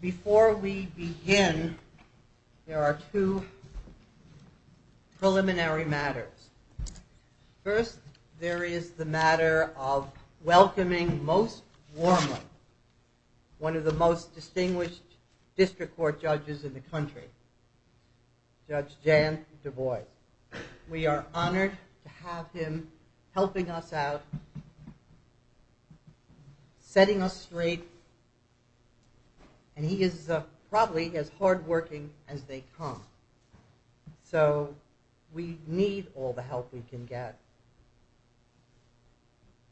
Before we begin, there are two preliminary matters. First, there is the matter of welcoming most warmly one of the most distinguished district court judges in the country, Judge Jan Du Bois. We are honored to have him helping us out, setting us straight, and he is probably as hard-working as they come. So we need all the help we can get.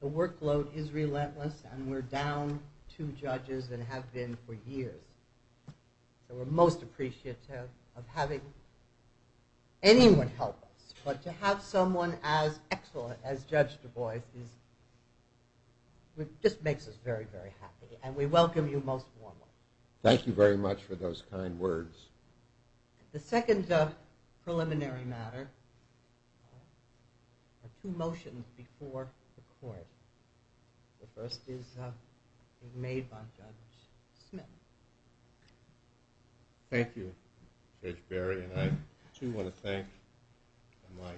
The workload is relentless and we're down two judges and have been for years. So we're most appreciative of having anyone help us, but to have someone as excellent as Judge Du Bois just makes us very, very happy and we welcome you most warmly. Thank you very much for those kind words. The second preliminary matter are two motions before the court. The first is made by Judge Smith. Thank you, Judge Berry, and I too want to thank my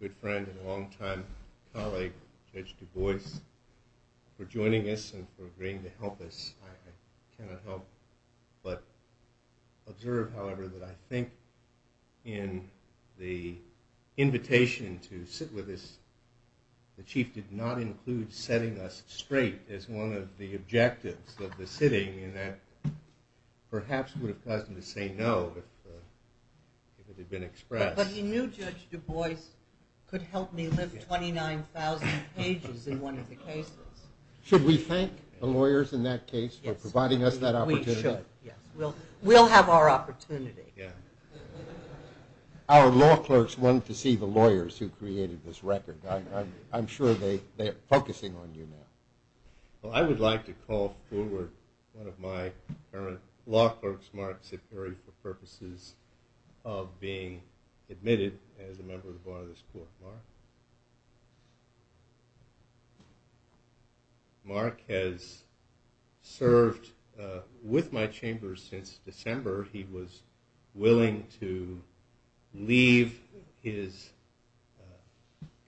good friend and longtime colleague, Judge Du Bois, for joining us and for agreeing to help us. I cannot help but observe, however, that I think in the invitation to sit with us, the Chief did not include setting us straight as one of the objectives of the sitting, and that perhaps would have caused him to say no if it had been expressed. But he knew Judge Du Bois could help me lift 29,000 pages in one of the cases. Should we thank the lawyers in that case for providing us that opportunity? We should, yes. We'll have our opportunity. Our law clerks want to see the lawyers who created this record. I'm sure they're focusing on you now. Well, I would like to call forward one of my current law clerks, Mark Ciperi, for purposes of being admitted as a member of the Board of this Court. Mark? Mark has served with my chamber since December. He was willing to leave his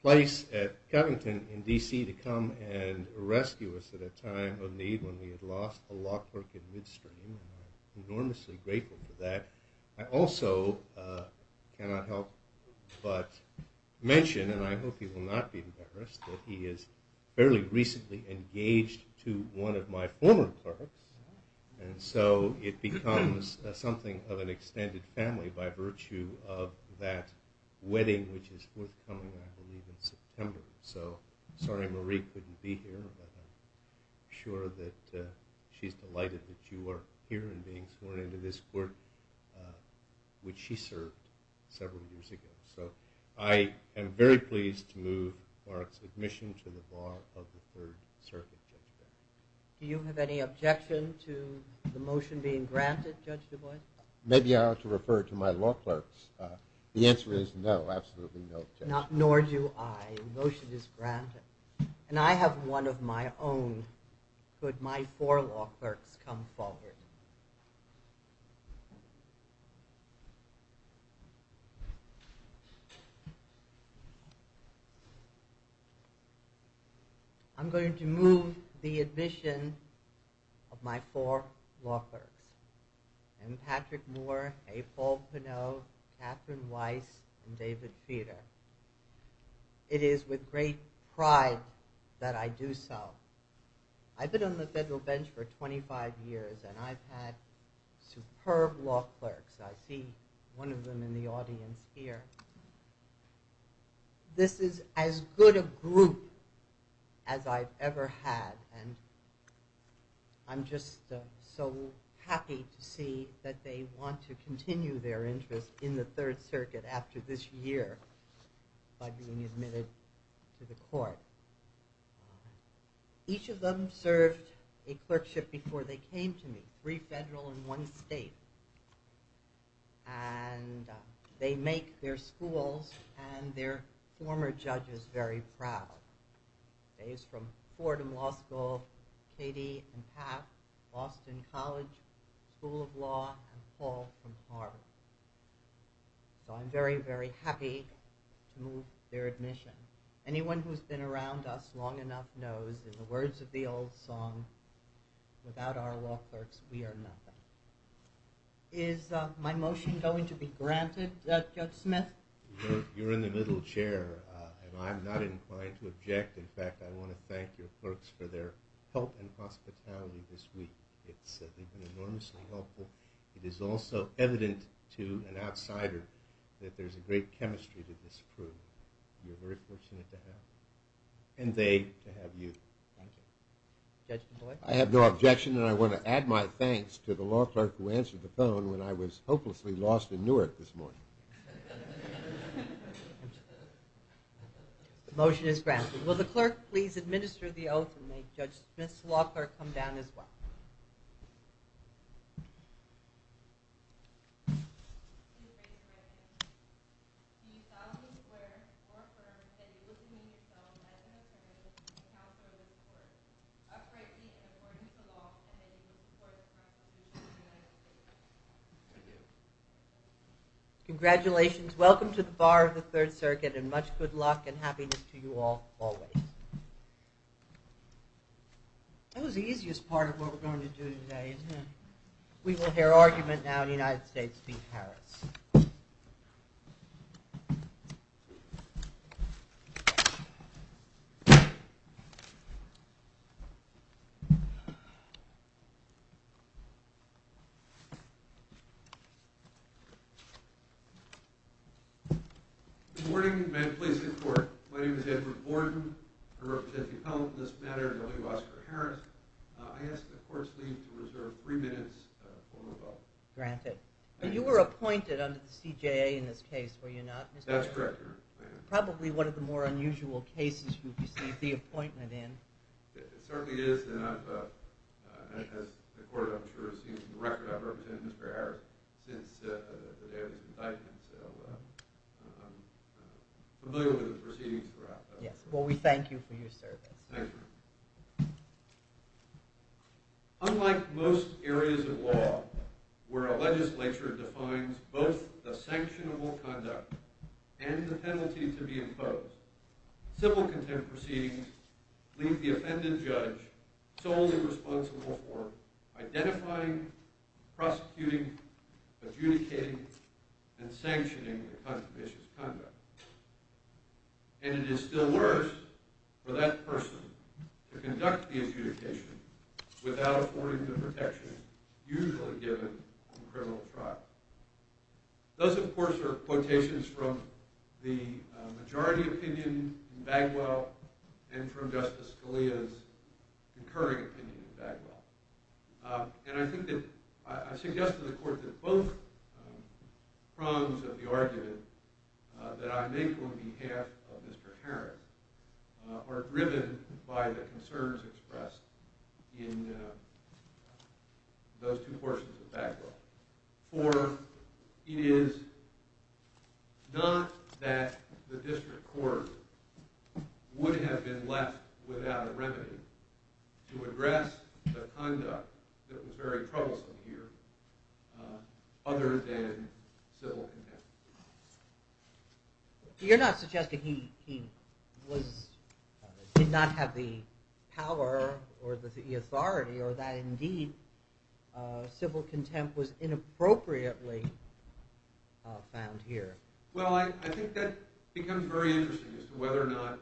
place at Covington in D.C. to come and rescue us at a time of need when we had lost a law clerk in Midstream. I'm enormously grateful for that. I also cannot help but mention, and I hope he will not be embarrassed, that he is fairly recently engaged to one of my former clerks. And so it becomes something of an extended family by virtue of that wedding which is forthcoming, I believe, in September. So, sorry Marie couldn't be here, but I'm sure that she's delighted that you are here and being sworn into this court, which she served several years ago. So, I am very pleased to move Mark's admission to the Bar of the Third Circuit, Judge Beck. Do you have any objection to the motion being granted, Judge DuBois? Maybe I ought to refer to my law clerks. The answer is no, absolutely no objection. Nor do I. The motion is granted. And I have one of my own. Could my four law clerks come forward? I'm going to move the admission of my four law clerks. M. Patrick Moore, A. Paul Pinot, Catherine Weiss, and David Feeder. It is with great pride that I do so. I've been on the federal bench for 25 years and I've had superb law clerks. I see one of them in the audience here. This is as good a group as I've ever had and I'm just so happy to see that they want to continue their interest in the Third Circuit after this year by being admitted to the court. Each of them served a clerkship before they came to me, three federal and one state. And they make their schools and their former judges very proud. Dave's from Fordham Law School, Katie and Pat, Boston College School of Law, and Paul from Harvard. So I'm very, very happy to move their admission. Anyone who's been around us long enough knows in the words of the old song, without our law clerks we are nothing. Is my motion going to be granted, Judge Smith? You're in the middle, Chair, and I'm not inclined to object. In fact, I want to thank your clerks for their help and hospitality this week. They've been enormously helpful. It is also evident to an outsider that there's a great chemistry to this crew. You're very fortunate to have them and they to have you. I have no objection and I want to add my thanks to the law clerk who answered the phone when I was hopelessly lost in Newark this morning. The motion is granted. Will the clerk please administer the oath and may Judge Smith's law clerk come down as well. Thank you, Mr. President. Do you solemnly swear or affirm that you will demean yourself as an attorney to the counsel of this court, uprightly and according to the law, and that you will support the Constitution of the United States of America? I do. Congratulations. Welcome to the bar of the Third Circuit and much good luck and happiness to you all always. That was the easiest part of what we're going to do today, isn't it? We will hear argument now in the United States v. Harris. Good morning and may the police be at court. My name is Edward Gordon. I represent the appellant in this matter, W. Oscar Harris. I ask that the courts leave to reserve three minutes for rebuttal. Granted. You were appointed under the CJA in this case, were you not? That's correct, Your Honor. Probably one of the more unusual cases you've received the appointment in. It certainly is and I've, as the court I'm sure has seen from the record, I've represented Mr. Harris since the day of his indictment. So I'm familiar with the proceedings throughout. Yes, well we thank you for your service. Thank you. Unlike most areas of law where a legislature defines both the sanctionable conduct and the penalty to be imposed, civil contempt proceedings leave the offended judge solely responsible for identifying, prosecuting, adjudicating, and sanctioning the controversious conduct. And it is still worse for that person to conduct the adjudication without affording the protection usually given on criminal trial. Those, of course, are quotations from the majority opinion in Bagwell and from Justice Scalia's concurring opinion in Bagwell. And I think that, I suggest to the court that both prongs of the argument that I make on behalf of Mr. Harris are driven by the concerns expressed in those two portions of Bagwell. For it is not that the district court would have been left without a remedy to address the conduct that was very troublesome here other than civil contempt. You're not suggesting he was, did not have the power or the authority or that indeed civil contempt was inappropriately found here. Well, I think that becomes very interesting as to whether or not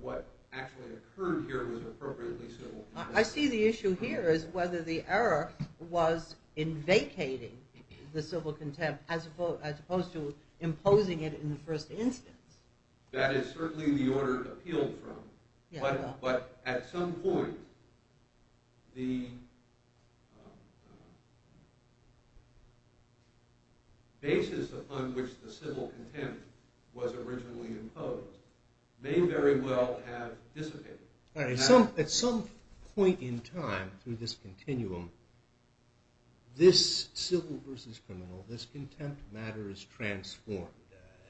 what actually occurred here was appropriately civil contempt. I see the issue here is whether the error was in vacating the civil contempt as opposed to imposing it in the first instance. That is certainly the order appealed from. But at some point, the basis upon which the civil contempt was originally imposed may very well have dissipated. At some point in time through this continuum, this civil versus criminal, this contempt matter is transformed.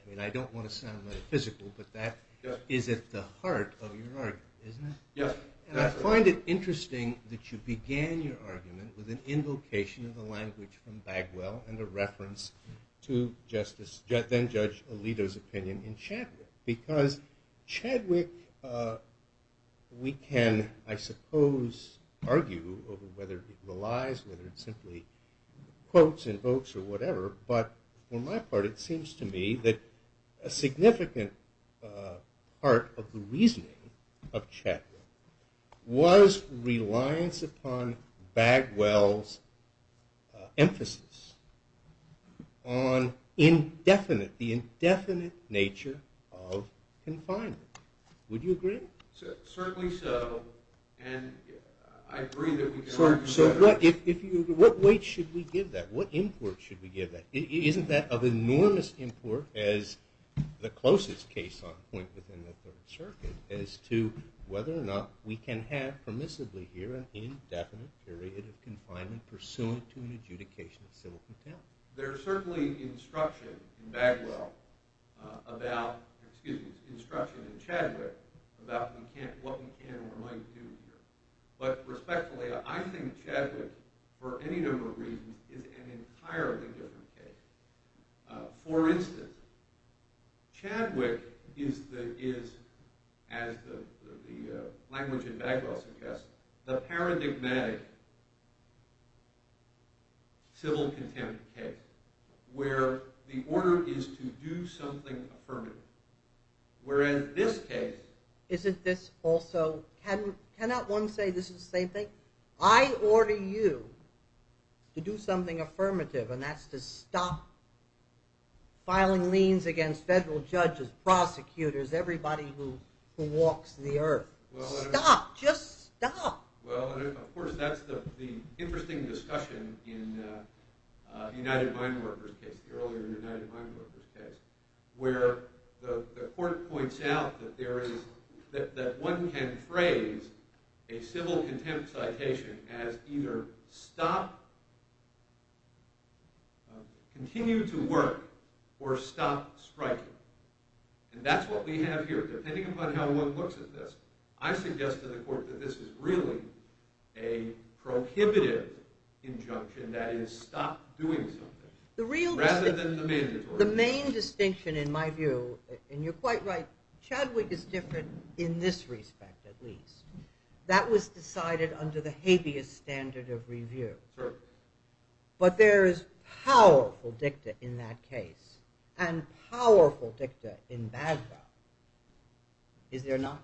I mean, I don't want to sound metaphysical, but that is at the heart of your argument, isn't it? Yes. And I find it interesting that you began your argument with an invocation of the language from Bagwell and a reference to Justice, then Judge Alito's opinion in Chadwick. Because Chadwick, we can, I suppose, argue over whether it relies, whether it simply quotes, invokes, or whatever. But for my part, it seems to me that a significant part of the reasoning of Chadwick was reliance upon Bagwell's emphasis on indefinite, the indefinite nature of confinement. Would you agree? Certainly so, and I agree that we can argue about that. What weight should we give that? What import should we give that? Isn't that of enormous import as the closest case on point within the Third Circuit as to whether or not we can have permissibly here an indefinite period of confinement pursuant to an adjudication of civil contempt? There is certainly instruction in Bagwell about, excuse me, instruction in Chadwick about what we can or might do here. But respectfully, I think Chadwick, for any number of reasons, is an entirely different case. For instance, Chadwick is, as the language in Bagwell suggests, the paradigmatic civil contempt case where the order is to do something affirmative. Where in this case... Isn't this also, cannot one say this is the same thing? I order you to do something affirmative, and that's to stop filing liens against federal judges, prosecutors, everybody who walks the earth. Stop, just stop. Well, of course, that's the interesting discussion in the United Mine Workers case, the earlier United Mine Workers case, where the court points out that one can phrase a civil contempt citation as either stop, continue to work, or stop striking. And that's what we have here. Depending upon how one looks at this, I suggest to the court that this is really a prohibitive injunction, that is, stop doing something. Rather than the mandatory. The main distinction, in my view, and you're quite right, Chadwick is different in this respect, at least. That was decided under the habeas standard of review. Certainly. But there is powerful dicta in that case, and powerful dicta in Bagwell. Is there not?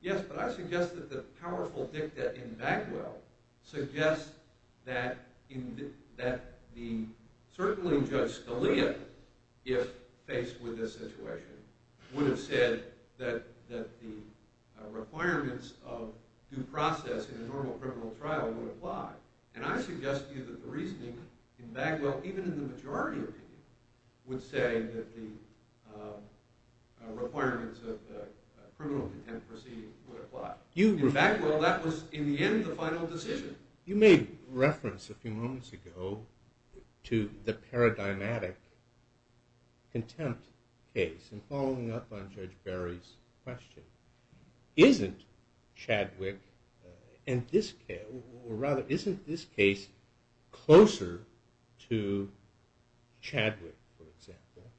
Yes, but I suggest that the powerful dicta in Bagwell suggests that certainly Judge Scalia, if faced with this situation, would have said that the requirements of due process in a normal criminal trial would apply. And I suggest to you that the reasoning in Bagwell, even in the majority opinion, would say that the requirements of the criminal contempt proceeding would apply. In Bagwell, that was, in the end, the final decision. You made reference a few moments ago to the paradigmatic contempt case, and following up on Judge Barry's question. Isn't Chadwick, or rather, isn't this case closer to Chadwick, for example,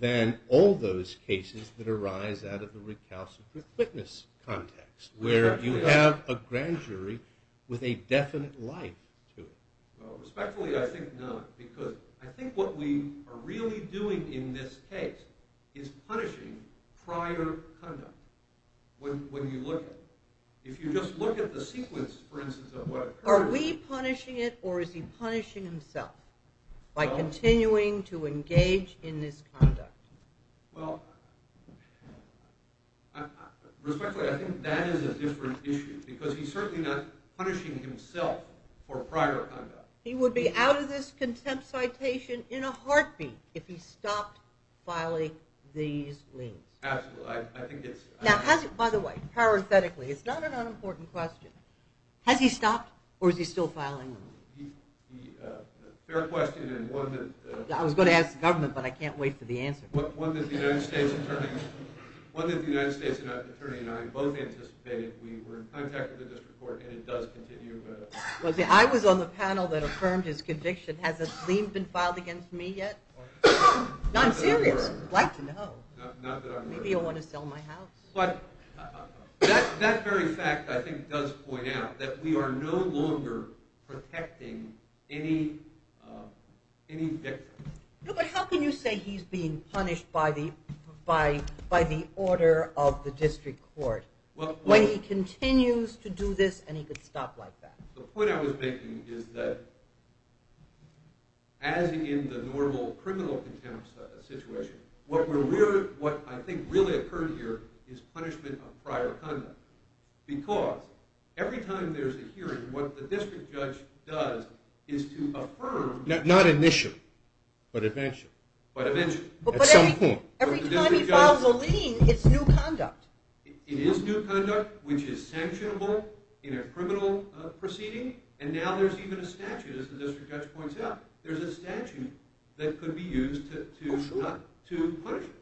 than all those cases that arise out of the recalcitrant witness context, where you have a grand jury with a definite life to it? Respectfully, I think not. Because I think what we are really doing in this case is punishing prior conduct, when you look at it. If you just look at the sequence, for instance, of what occurred. Are we punishing it, or is he punishing himself by continuing to engage in this conduct? Well, respectfully, I think that is a different issue, because he's certainly not punishing himself for prior conduct. He would be out of this contempt citation in a heartbeat if he stopped filing these liens. Absolutely. By the way, parenthetically, it's not an unimportant question. Has he stopped, or is he still filing them? Fair question. I was going to ask the government, but I can't wait for the answer. One that the United States attorney and I both anticipated. We were in contact with the district court, and it does continue. I was on the panel that affirmed his conviction. Has a gleam been filed against me yet? No, I'm serious. I'd like to know. Maybe you'll want to sell my house. That very fact, I think, does point out that we are no longer protecting any victim. But how can you say he's being punished by the order of the district court, when he continues to do this and he could stop like that? The point I was making is that, as in the normal criminal contempt situation, what I think really occurred here is punishment of prior conduct. Because every time there's a hearing, what the district judge does is to affirm. Not initially, but eventually. But eventually, at some point. Every time he files a lien, it's new conduct. It is new conduct, which is sanctionable in a criminal proceeding. And now there's even a statute, as the district judge points out. There's a statute that could be used to punish him.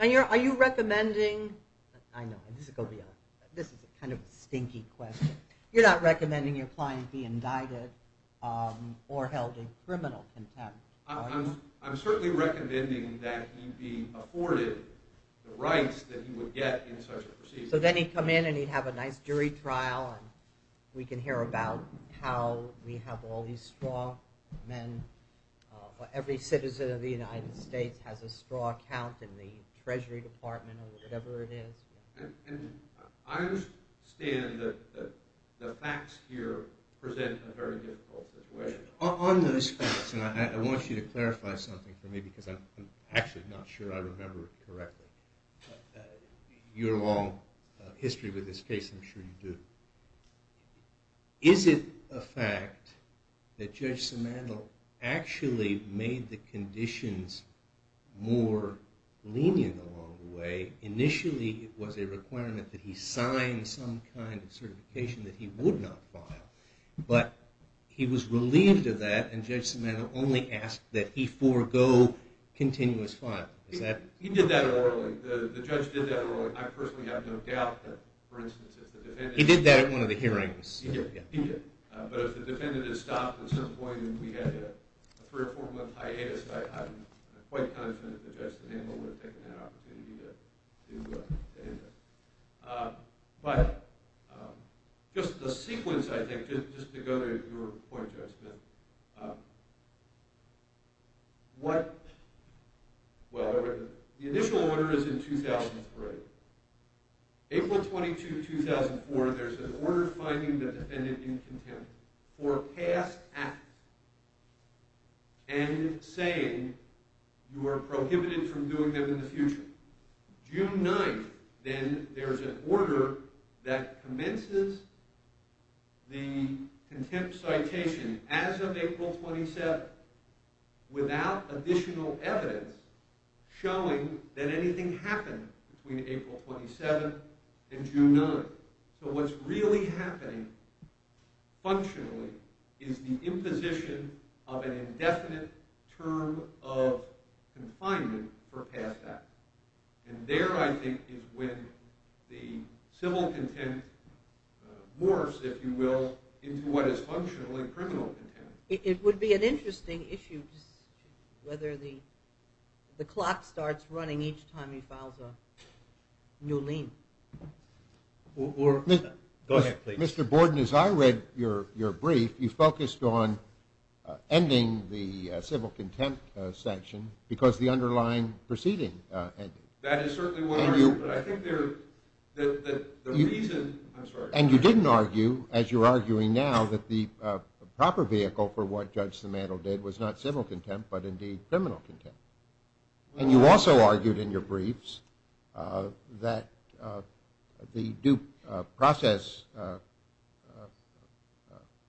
Are you recommending – I know, this is a kind of stinky question. You're not recommending your client be indicted or held in criminal contempt. I'm certainly recommending that he be afforded the rights that he would get in such a proceeding. So then he'd come in and he'd have a nice jury trial and we can hear about how we have all these straw men. Every citizen of the United States has a straw count in the Treasury Department or whatever it is. I understand that the facts here present a very difficult situation. On those facts, and I want you to clarify something for me because I'm actually not sure I remember it correctly. You're a long history with this case, I'm sure you do. Is it a fact that Judge Simandl actually made the conditions more lenient along the way? Initially, it was a requirement that he sign some kind of certification that he would not file. But he was relieved of that and Judge Simandl only asked that he forego continuous fine. He did that orally. The judge did that orally. I personally have no doubt that, for instance, if the defendant – He did that at one of the hearings. He did. He did. But if the defendant had stopped at some point and we had a three- or four-month hiatus, I'm quite confident that Judge Simandl would have taken that opportunity to end it. But just the sequence, I think, just to go to your point, Judge Simandl. The initial order is in 2003. April 22, 2004, there's an order finding the defendant in contempt for past actions and saying you are prohibited from doing them in the future. June 9, then, there's an order that commences the contempt citation as of April 27 without additional evidence showing that anything happened between April 27 and June 9. So what's really happening functionally is the imposition of an indefinite term of confinement for past actions. And there, I think, is when the civil contempt morphs, if you will, into what is functionally criminal contempt. It would be an interesting issue whether the clock starts running each time he files a new lien. Go ahead, please. Mr. Borden, as I read your brief, you focused on ending the civil contempt sanction because the underlying proceeding ended. That is certainly one reason, but I think the reason – I'm sorry. And you didn't argue, as you're arguing now, that the proper vehicle for what Judge Simandl did was not civil contempt but, indeed, criminal contempt. And you also argued in your briefs that the due process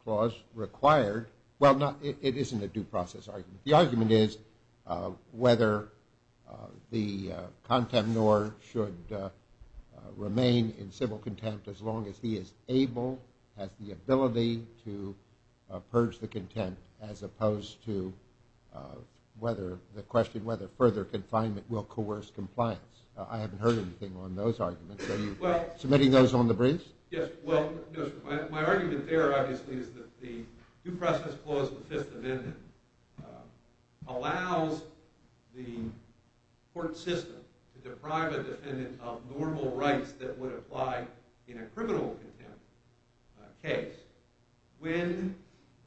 clause required – well, it isn't a due process argument. The argument is whether the contempt nor should remain in civil contempt as long as he is able, has the ability to purge the contempt as opposed to the question whether further confinement will coerce compliance. I haven't heard anything on those arguments. Are you submitting those on the briefs? Yes. Well, no, sir. My argument there, obviously, is that the due process clause of the Fifth Amendment allows the court system to deprive a defendant of normal rights that would apply in a criminal contempt case when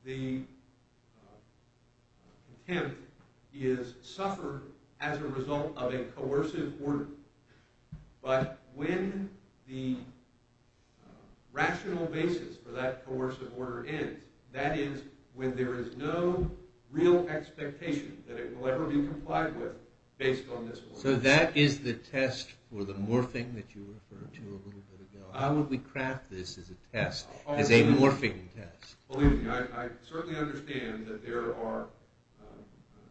the contempt is suffered as a result of a coercive order. But when the rational basis for that coercive order ends, that is when there is no real expectation that it will ever be complied with based on this law. So that is the test for the morphing that you referred to a little bit ago. How would we craft this as a test, as a morphing test? Believe me, I certainly understand that there are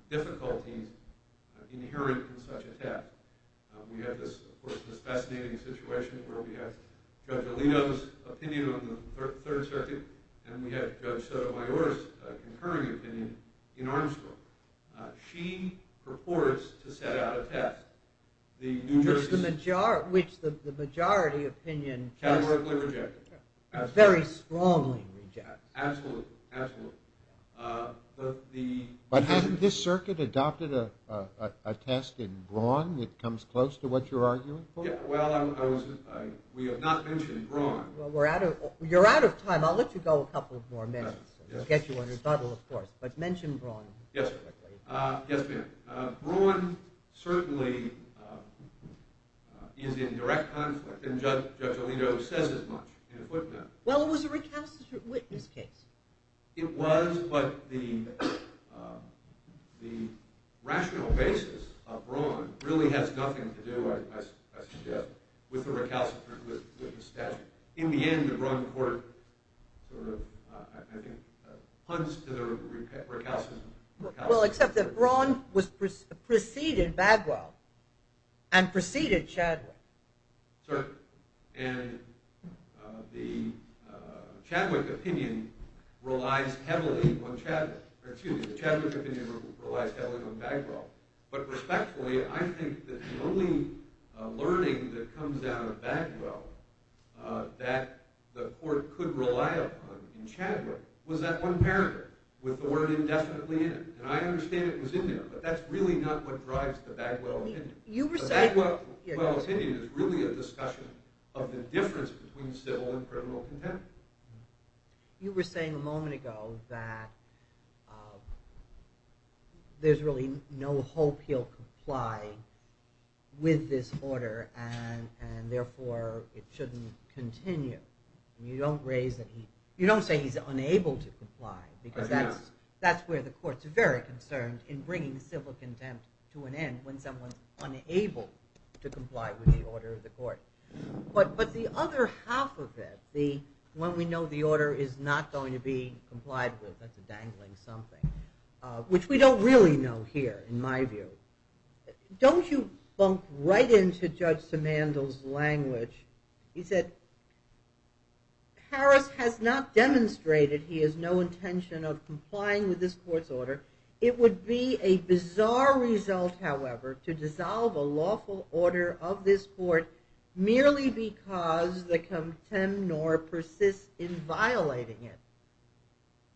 difficulties inherent in such a test. We have, of course, this fascinating situation where we have Judge Alito's opinion on the Third Circuit and we have Judge Sotomayor's concurring opinion in Armstrong. She purports to set out a test, which the majority opinion very strongly rejects. Absolutely. Absolutely. But hasn't this circuit adopted a test in Braun that comes close to what you're arguing for? Well, we have not mentioned Braun. Well, you're out of time. I'll let you go a couple of more minutes. We'll get you on rebuttal, of course. But mention Braun. Yes, ma'am. Braun certainly is in direct conflict, and Judge Alito says as much in a footnote. Well, it was a recalcitrant witness case. It was, but the rational basis of Braun really has nothing to do, I suggest, with the recalcitrant witness statute. In the end, the Braun court sort of, I think, punts to the recalcitrant witness statute. Well, except that Braun preceded Bagwell and preceded Chadwick. Certainly. And the Chadwick opinion relies heavily on Bagwell. But respectfully, I think that the only learning that comes out of Bagwell that the court could rely upon in Chadwick was that one paragraph with the word indefinitely in it. And I understand it was in there, but that's really not what drives the Bagwell opinion. The Bagwell opinion is really a discussion of the difference between civil and criminal contempt. You were saying a moment ago that there's really no hope he'll comply with this order, and therefore it shouldn't continue. You don't say he's unable to comply, because that's where the court's very concerned, in bringing civil contempt to an end when someone's unable to comply with the order of the court. But the other half of it, when we know the order is not going to be complied with, that's a dangling something, which we don't really know here, in my view. Don't you bump right into Judge Simandl's language. He said, Harris has not demonstrated he has no intention of complying with this court's order. It would be a bizarre result, however, to dissolve a lawful order of this court merely because the contemnor persists in violating it.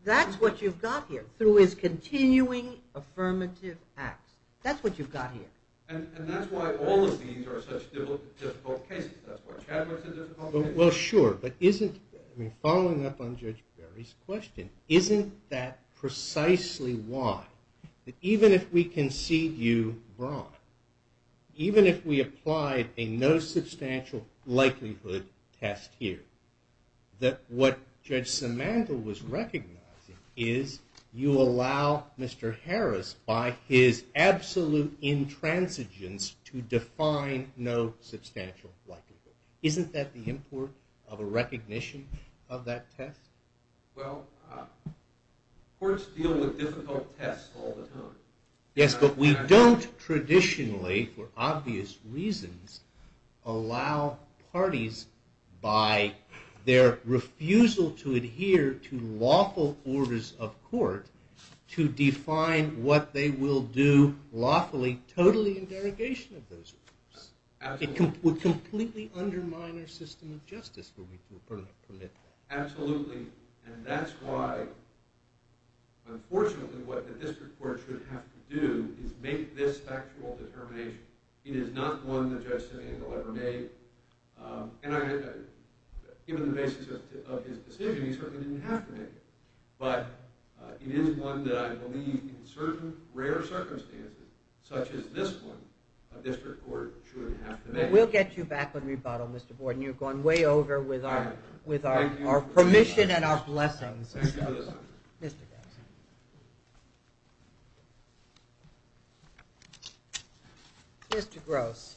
That's what you've got here, through his continuing affirmative acts. That's what you've got here. And that's why all of these are such difficult cases. That's why Chadwick's a difficult case. Well, sure. But following up on Judge Barry's question, isn't that precisely why, that even if we concede you wrong, even if we applied a no substantial likelihood test here, that what Judge Simandl was recognizing is you allow Mr. Harris, by his absolute intransigence, to define no substantial likelihood. Isn't that the import of a recognition of that test? Well, courts deal with difficult tests all the time. Yes, but we don't traditionally, for obvious reasons, allow parties by their refusal to adhere to lawful orders of court to define what they will do lawfully, totally in derogation of those orders. It would completely undermine our system of justice, would we permit that? Absolutely. And that's why, unfortunately, what the district court should have to do is make this factual determination. It is not one that Judge Simandl ever made. And given the basis of his decision, he certainly didn't have to make it. But it is one that I believe in certain rare circumstances, such as this one, that a district court should have to make. We'll get you back on rebuttal, Mr. Borden. You've gone way over with our permission and our blessings. Thank you for this opportunity. Mr. Gross. Mr. Gross.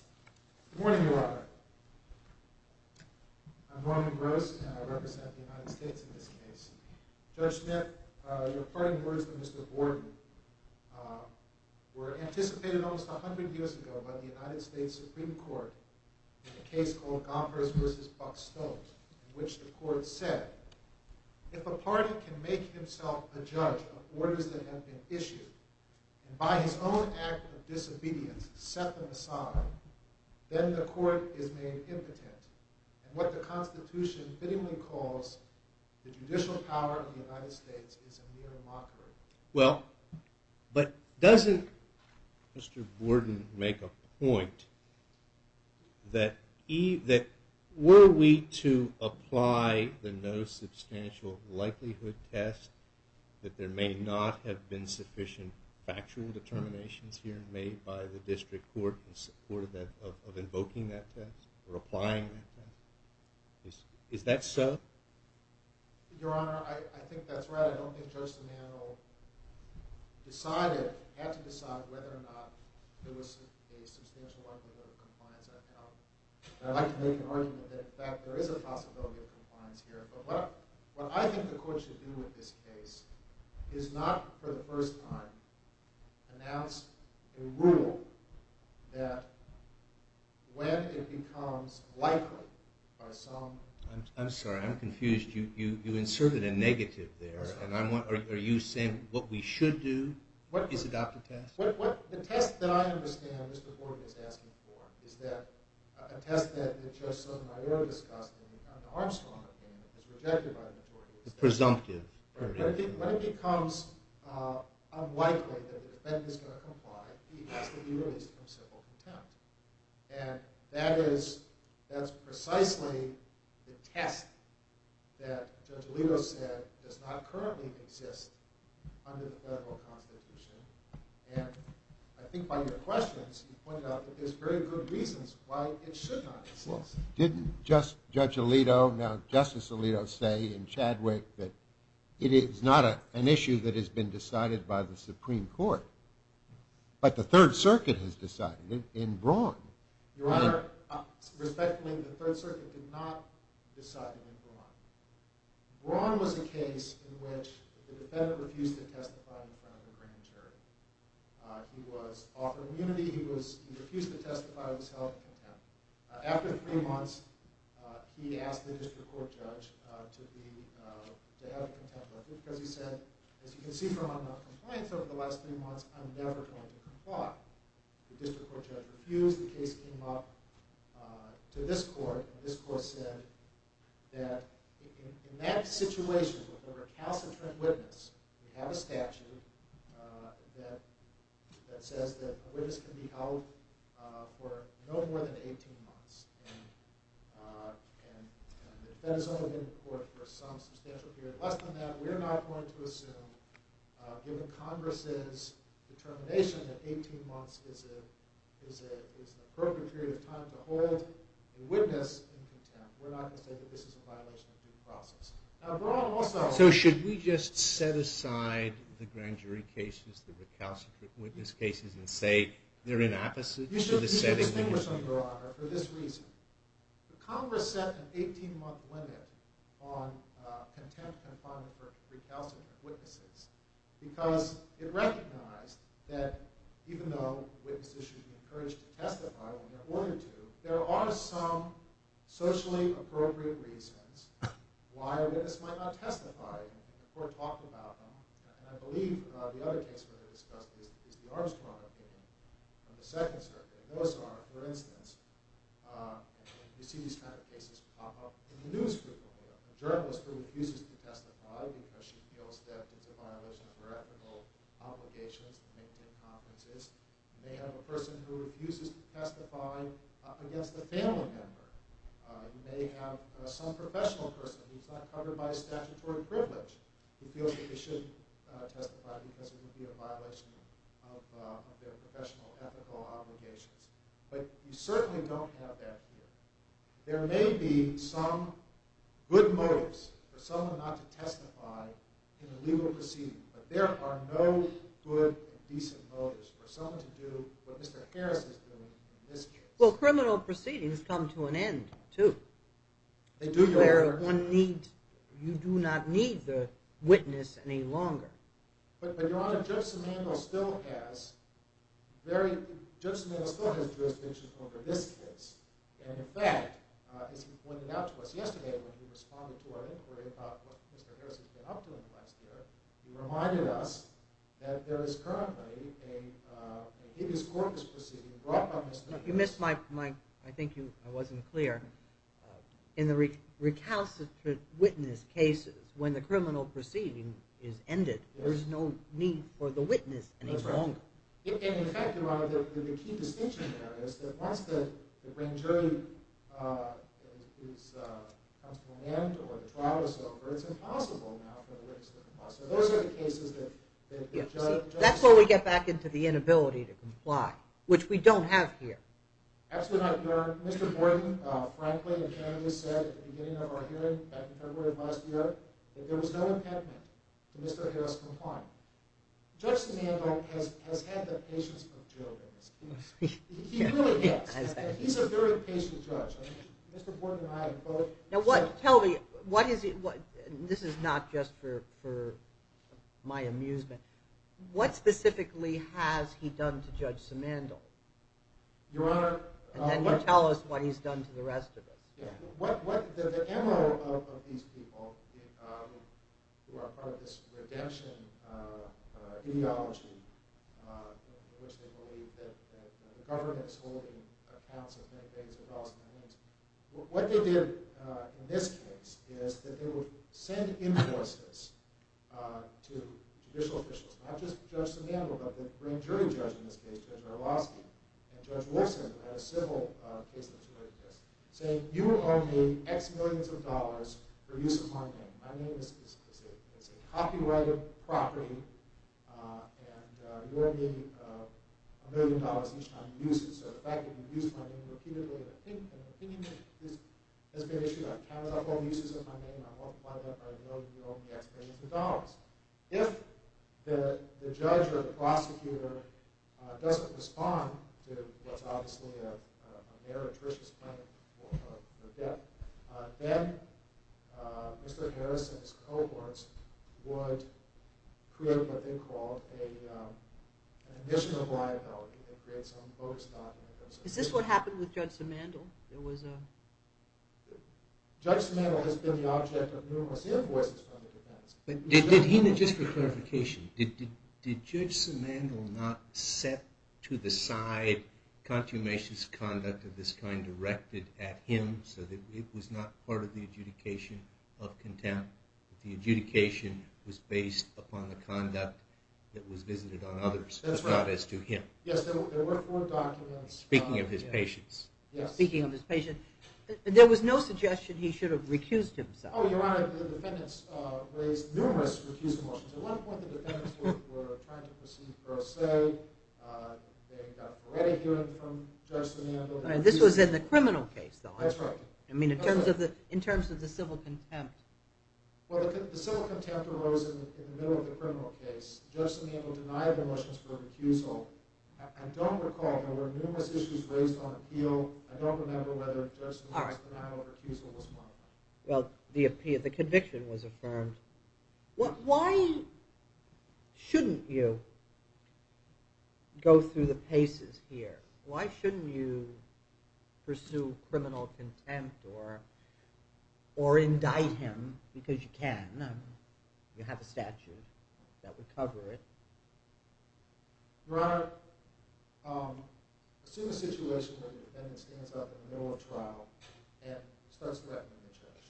Good morning, Robert. I'm Roman Gross, and I represent the United States in this case. Judge Smith, your parting words to Mr. Borden were anticipated almost 100 years ago by the United States Supreme Court in a case called Gompers v. Buckstone, in which the court said, if a party can make himself a judge of orders that have been issued and by his own act of disobedience set them aside, then the court is made impotent. And what the Constitution fittingly calls the judicial power of the United States is a mere mockery. Well, but doesn't Mr. Borden make a point that were we to apply the no substantial likelihood test, that there may not have been sufficient factual determinations here made by the district court in support of invoking that test or applying that test? Is that so? Your Honor, I think that's right. I don't think Judge D'Amato decided, had to decide, whether or not there was a substantial likelihood of compliance at all. And I'd like to make an argument that, in fact, there is a possibility of compliance here. But what I think the court should do in this case is not, for the first time, announce a rule that when it becomes likely by some... I'm sorry. I'm confused. You inserted a negative there. And are you saying what we should do is adopt a test? The test that I understand Mr. Borden is asking for is that a test that Judge Sotomayor discussed in the Armstrong opinion is rejected by the majority. The presumptive. When it becomes unlikely that the defendant is going to comply, he has to be released from civil contempt. And that is precisely the test that Judge Alito said does not currently exist under the federal constitution. And I think by your questions, you pointed out that there's very good reasons why it should not exist. Didn't Judge Alito, now Justice Alito, say in Chadwick that it is not an issue that has been decided by the Supreme Court, but the Third Circuit has decided it in Braun? Your Honor, respectfully, the Third Circuit did not decide it in Braun. Braun was a case in which the defendant refused to testify in front of the grand jury. He was offered immunity. He refused to testify. He was held in contempt. After three months, he asked the district court judge to have him contemplated because he said, as you can see from my complaints over the last three months, I'm never going to comply. The district court judge refused. The case came up to this court. This court said that in that situation, with a recalcitrant witness, you have a statute that says that a witness can be held for no more than 18 months. And the defendant has only been in court for some substantial period. Less than that, we're not going to assume, given Congress's determination that 18 months is an appropriate period of time to hold a witness in contempt. We're not going to say that this is a violation of due process. Now, Braun also. So should we just set aside the grand jury cases, the recalcitrant witness cases, and say they're inappropriate? You should distinguish them, Your Honor, for this reason. Congress set an 18-month limit on contempt confinement for recalcitrant witnesses because it recognized that even though witnesses should be encouraged to testify when they're ordered to, there are some socially appropriate reasons why a witness might not testify before talking about them. And I believe the other case we're going to discuss is the Armstrong opinion on the Second Circuit. And those are, for instance, you see these kind of cases pop up in the news frequently. A journalist who refuses to testify because she feels that it's a violation of her ethical obligations to maintain confidences. You may have a person who refuses to testify against a family member. You may have some professional person who's not covered by a statutory privilege who feels that they shouldn't testify because it would be a violation of their professional ethical obligations. But you certainly don't have that here. There may be some good motives for someone not to testify in a legal proceeding, but there are no good, decent motives for someone to do what Mr. Harris is doing in this case. Well, criminal proceedings come to an end, too. You do not need the witness any longer. But, Your Honor, Judge Simandl still has jurisdiction over this case. And, in fact, as he pointed out to us yesterday when he responded to our inquiry about what Mr. Harris has been up to in the last year, he reminded us that there is currently a hideous corpus proceeding brought by Mr. Harris. You missed my point. I think I wasn't clear. In the recalcitrant witness cases, when the criminal proceeding is ended, there is no need for the witness any longer. And, in fact, Your Honor, the key distinction there is that once the grand jury comes to an end or the trial is over, it's impossible now for the witness to comply. So those are the cases that Judge Simandl... That's where we get back into the inability to comply, which we don't have here. Absolutely not, Your Honor. Mr. Borden, frankly, apparently said at the beginning of our hearing, back in February of last year, that there was no impediment to Mr. Harris' compliance. Judge Simandl has had the patience of Joe in this case. He really has. He's a very patient judge. Mr. Borden and I have both... Tell me, this is not just for my amusement. What specifically has he done to Judge Simandl? Your Honor... And then you tell us what he's done to the rest of us. The MO of these people, who are part of this redemption ideology, in which they believe that the government is holding accounts of many things across their hands, what they did in this case is that they would send invoices to judicial officials, not just Judge Simandl, but the grand jury judge in this case, Judge Orlowski, and Judge Wolfson, who had a civil case that was related to this, saying, you owe me X millions of dollars for use of my name. My name is a copyrighted property, and you owe me a million dollars each time you use it. So the fact that you use my name repeatedly in an opinion has been an issue. I've counted up all the uses of my name, and I'm multiplying that by a million, and you owe me X millions of dollars. If the judge or the prosecutor doesn't respond to what's obviously a meritorious claim or a debt, then Mr. Harris and his cohorts would create what they called an additional liability, and create some bogus document. Is this what happened with Judge Simandl? Judge Simandl has been the object of numerous invoices from the defense. Just for clarification, did Judge Simandl not set to the side consummationist conduct of this kind directed at him, so that it was not part of the adjudication of contempt? The adjudication was based upon the conduct that was visited on others, not as to him. Yes, there were four documents. Speaking of his patients. There was no suggestion he should have recused himself. Your Honor, the defendants raised numerous recused motions. At one point, the defendants were trying to proceed per se. They got ready hearing from Judge Simandl. This was in the criminal case, though. That's right. In terms of the civil contempt. The civil contempt arose in the middle of the criminal case. Judge Simandl denied the motions for recusal. I don't recall. There were numerous issues raised on appeal. I don't remember whether Judge Simandl's denial of recusal was one of them. Well, the conviction was affirmed. Why shouldn't you go through the paces here? Why shouldn't you pursue criminal contempt or indict him? Because you can. You have a statute that would cover it. Your Honor, assume a situation where the defendant stands up in the middle of a trial and starts threatening the judge.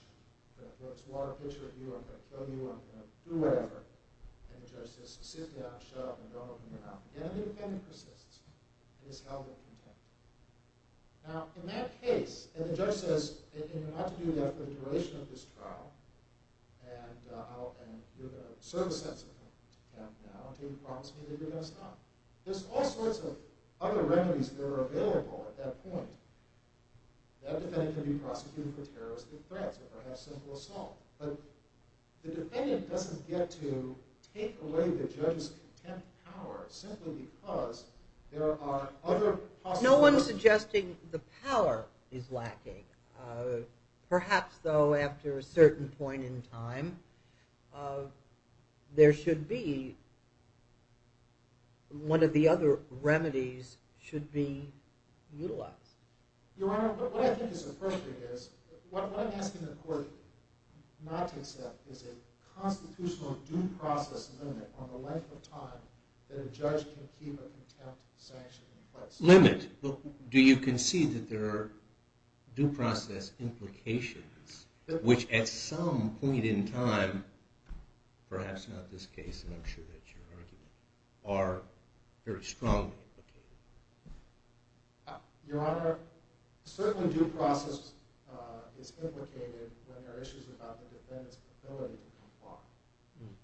I'm going to throw this water pitcher at you. I'm going to kill you. I'm going to do whatever. And the judge says, sit down, shut up, and don't open your mouth. And the defendant persists in this hell of a contempt. Now, in that case, and the judge says, and you're not to do that for the duration of this trial. And you're going to serve a sentence. Now, do you promise me that you're going to stop? There's all sorts of other remedies that are available at that point. That defendant can be prosecuted for terroristic threats or perhaps simple assault. But the defendant doesn't get to take away the judge's contempt power simply because there are other possibilities. No one's suggesting the power is lacking. Perhaps, though, after a certain point in time, there should be one of the other remedies should be utilized. Your Honor, what I think is appropriate is what I'm asking the court not to accept is a constitutional due process limit on the length of time that a judge can keep a contempt sanction in place. Limit? Do you concede that there are due process implications, which at some point in time, perhaps not this case, and I'm sure that's your argument, are very strongly implicated? Your Honor, certainly due process is implicated when there are issues about the defendant's ability to comply.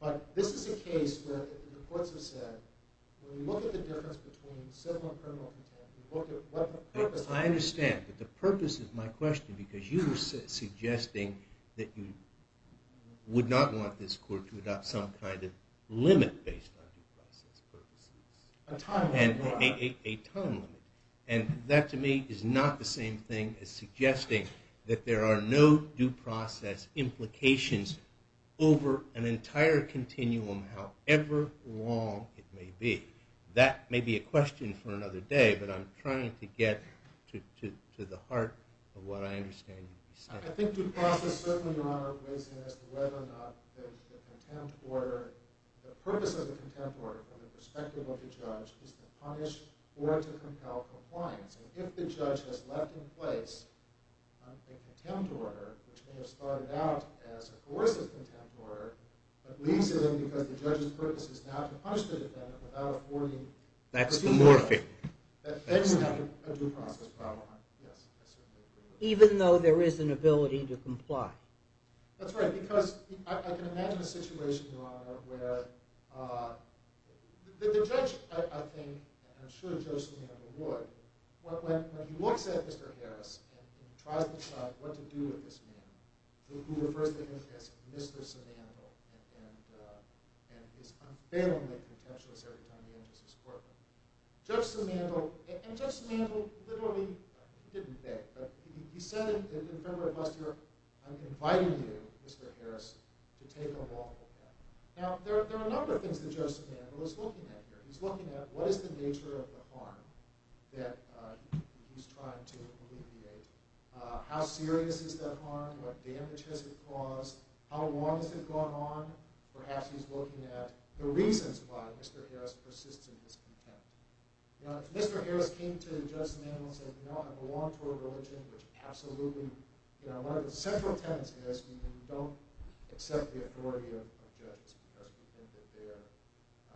But this is a case where the courts have said, when you look at the difference between civil and criminal contempt, you look at what the purpose is. I understand, but the purpose is my question because you were suggesting that you would not want this court to adopt some kind of limit based on due process purposes. A time limit. A time limit. And that, to me, is not the same thing as suggesting that there are no due process implications over an entire continuum, however long it may be. That may be a question for another day, but I'm trying to get to the heart of what I understand you're saying. I think due process certainly, Your Honor, weighs in as to whether or not there's a contempt order. The purpose of the contempt order from the perspective of the judge is to punish or to compel compliance. And if the judge has left in place a contempt order, which may have started out as a coercive contempt order, but leaves it in because the judge's purpose is now to punish the defendant without affording the due process. That's morphic. That's not a due process problem. Yes, I certainly agree with that. Even though there is an ability to comply. That's right, because I can imagine a situation, Your Honor, where the judge, I think, and I'm sure Judge Savino would, when he looks at Mr. Harris and tries to decide what to do with this man, who refers to him as Mr. Simandl and is unfailingly contemptuous every time he enters his courtroom. Judge Simandl, and Judge Simandl literally didn't think, but he said in February of last year, I'm inviting you, Mr. Harris, to take a walk with him. Now, there are a number of things that Judge Simandl is looking at here. He's looking at what is the nature of the harm that he's trying to alleviate, how serious is that harm, what damage has it caused, how long has it gone on. Perhaps he's looking at the reasons why Mr. Harris persists in his contempt. Now, if Mr. Harris came to Judge Simandl and said, you know, I belong to a religion which absolutely, you know, one of the central tenets is we don't accept the authority of judges because we think that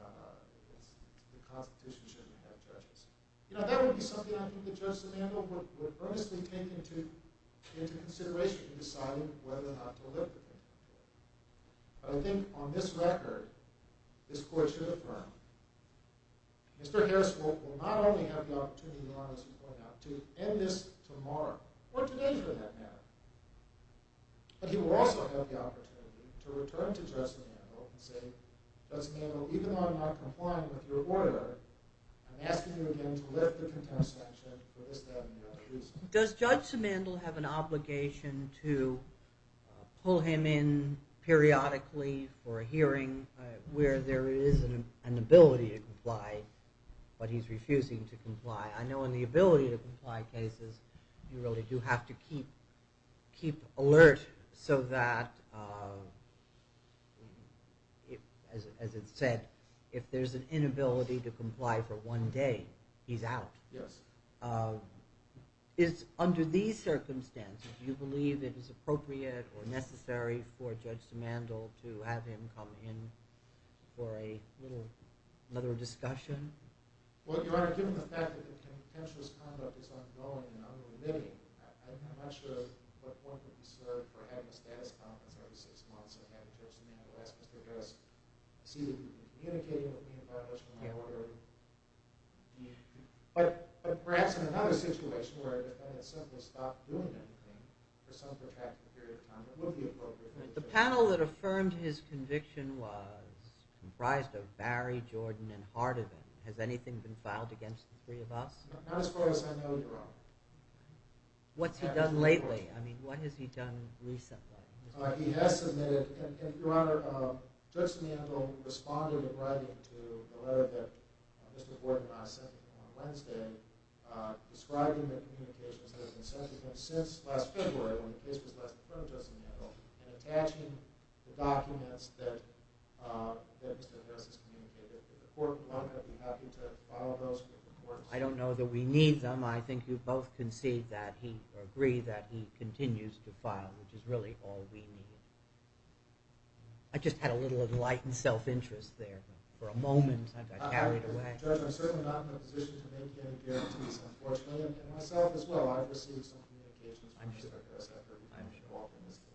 the Constitution shouldn't have judges. You know, that would be something I think that Judge Simandl would earnestly take into consideration in deciding whether or not to live with him. But I think on this record, this court should affirm, Mr. Harris will not only have the opportunity, as you pointed out, to end this tomorrow, or today for that matter, but he will also have the opportunity to return to Judge Simandl and say, Judge Simandl, even though I'm not complying with your order, I'm asking you again to lift the contempt sanction for this, that, and the other reasons. Does Judge Simandl have an obligation to pull him in periodically for a hearing where there is an ability to comply, but he's refusing to comply? I know in the ability to comply cases you really do have to keep alert so that, as it's said, if there's an inability to comply for one day, he's out. Yes. Under these circumstances, do you believe it is appropriate or necessary for Judge Simandl to have him come in for another discussion? Well, Your Honor, given the fact that the contemptuous conduct is ongoing and unremitting, I'm not sure what point would be served for having a status conference every six months and having Judge Simandl ask Mr. Harris to continue communicating with me about this when I order him. But perhaps in another situation where a defendant simply stopped doing anything for some protracted period of time, it would be appropriate. The panel that affirmed his conviction was comprised of Barry, Jordan, and Hardin. Has anything been filed against the three of us? Not as far as I know, Your Honor. What's he done lately? I mean, what has he done recently? He has submitted, and Your Honor, Judge Simandl responded in writing to the letter that Mr. Gordon and I sent him on Wednesday describing the communications that have been sent to him since last February when the case was last affirmed, Judge Simandl, and attaching the documents that Mr. Harris has communicated to the court. Would you be happy to file those with the courts? I don't know that we need them. I think you both concede that he, or agree that he continues to file, which is really all we need. I just had a little enlightened self-interest there for a moment, and I got carried away. I'm certainly not in a position to make any guarantees, unfortunately, and myself as well. I've received some communications from Mr. Harris after we've been involved in this case.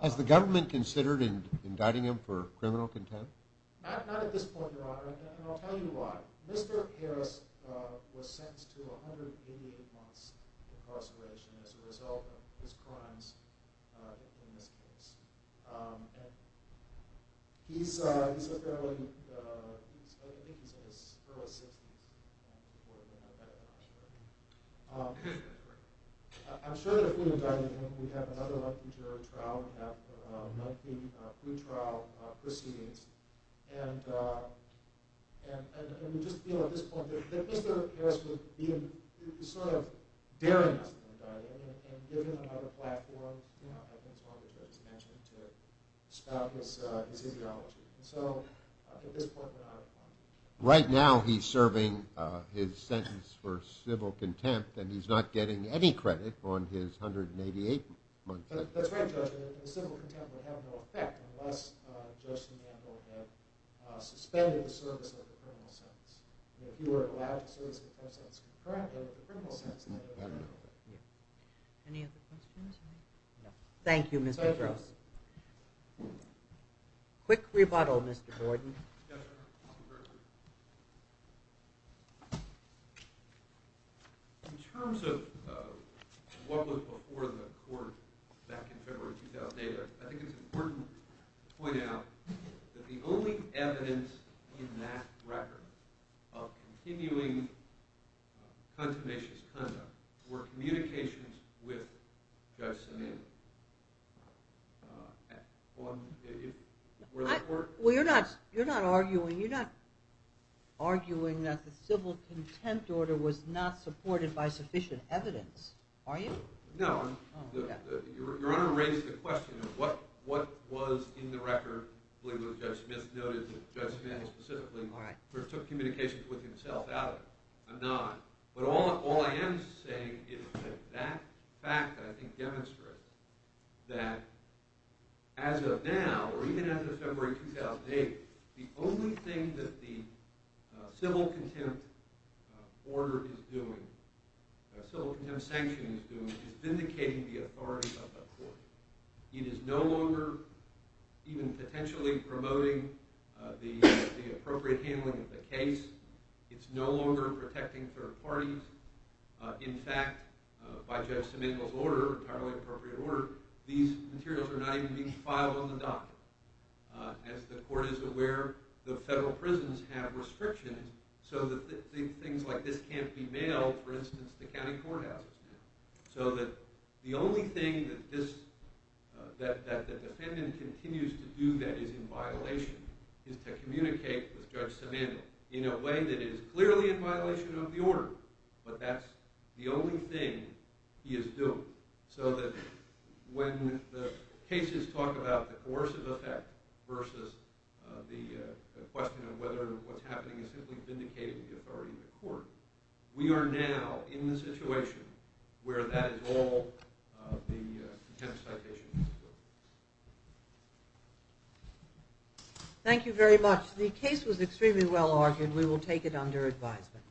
Has the government considered indicting him for criminal contempt? Not at this point, Your Honor, and I'll tell you why. Mr. Harris was sentenced to 188 months' incarceration as a result of his crimes in this case. He's a fairly—I think he's in his early 60s. I'm sure that if we indict him, we'd have another lengthy jury trial. We'd have a lengthy pre-trial proceedings. And just being at this point, Mr. Harris was sort of daring us to indict him and give him another platform, I think as one of the judges mentioned, to spout his ideology. So at this point, we're not inclined to. Right now he's serving his sentence for civil contempt, and he's not getting any credit on his 188-month sentence. That's right, Judge. The civil contempt would have no effect unless Judge Simandl had suspended the service of the criminal sentence. If you were allowed to serve the sentence correctly, the criminal sentence would have no effect. Any other questions? No. Thank you, Mr. Gross. Quick rebuttal, Mr. Gordon. Yes, Your Honor. In terms of what was before the court back in February 2008, I think it's important to point out that the only evidence in that record of continuing contemnationist conduct were communications with Judge Simandl. Well, you're not arguing that the civil contempt order was not supported by sufficient evidence, are you? No. Your Honor raised the question of what was in the record. I believe Judge Smith noted that Judge Simandl specifically took communications with himself out of it. I'm not. But all I am saying is that that fact, I think, demonstrates that as of now, or even after February 2008, the only thing that the civil contempt order is doing, the civil contempt sanction is doing, is vindicating the authority of the court. It is no longer even potentially promoting the appropriate handling of the case. It's no longer protecting third parties. In fact, by Judge Simandl's order, entirely appropriate order, these materials are not even being filed on the docket. As the court is aware, the federal prisons have restrictions so that things like this can't be mailed, for instance, to county courthouses. So that the only thing that the defendant continues to do that is in violation is to communicate with Judge Simandl in a way that is clearly in violation of the order, but that's the only thing he is doing. So that when the cases talk about the coercive effect versus the question of whether what's happening is simply vindicating the authority of the court, we are now in the situation where that is all the contempt citation is doing. Thank you very much. The case was extremely well argued. We will take it under advisement.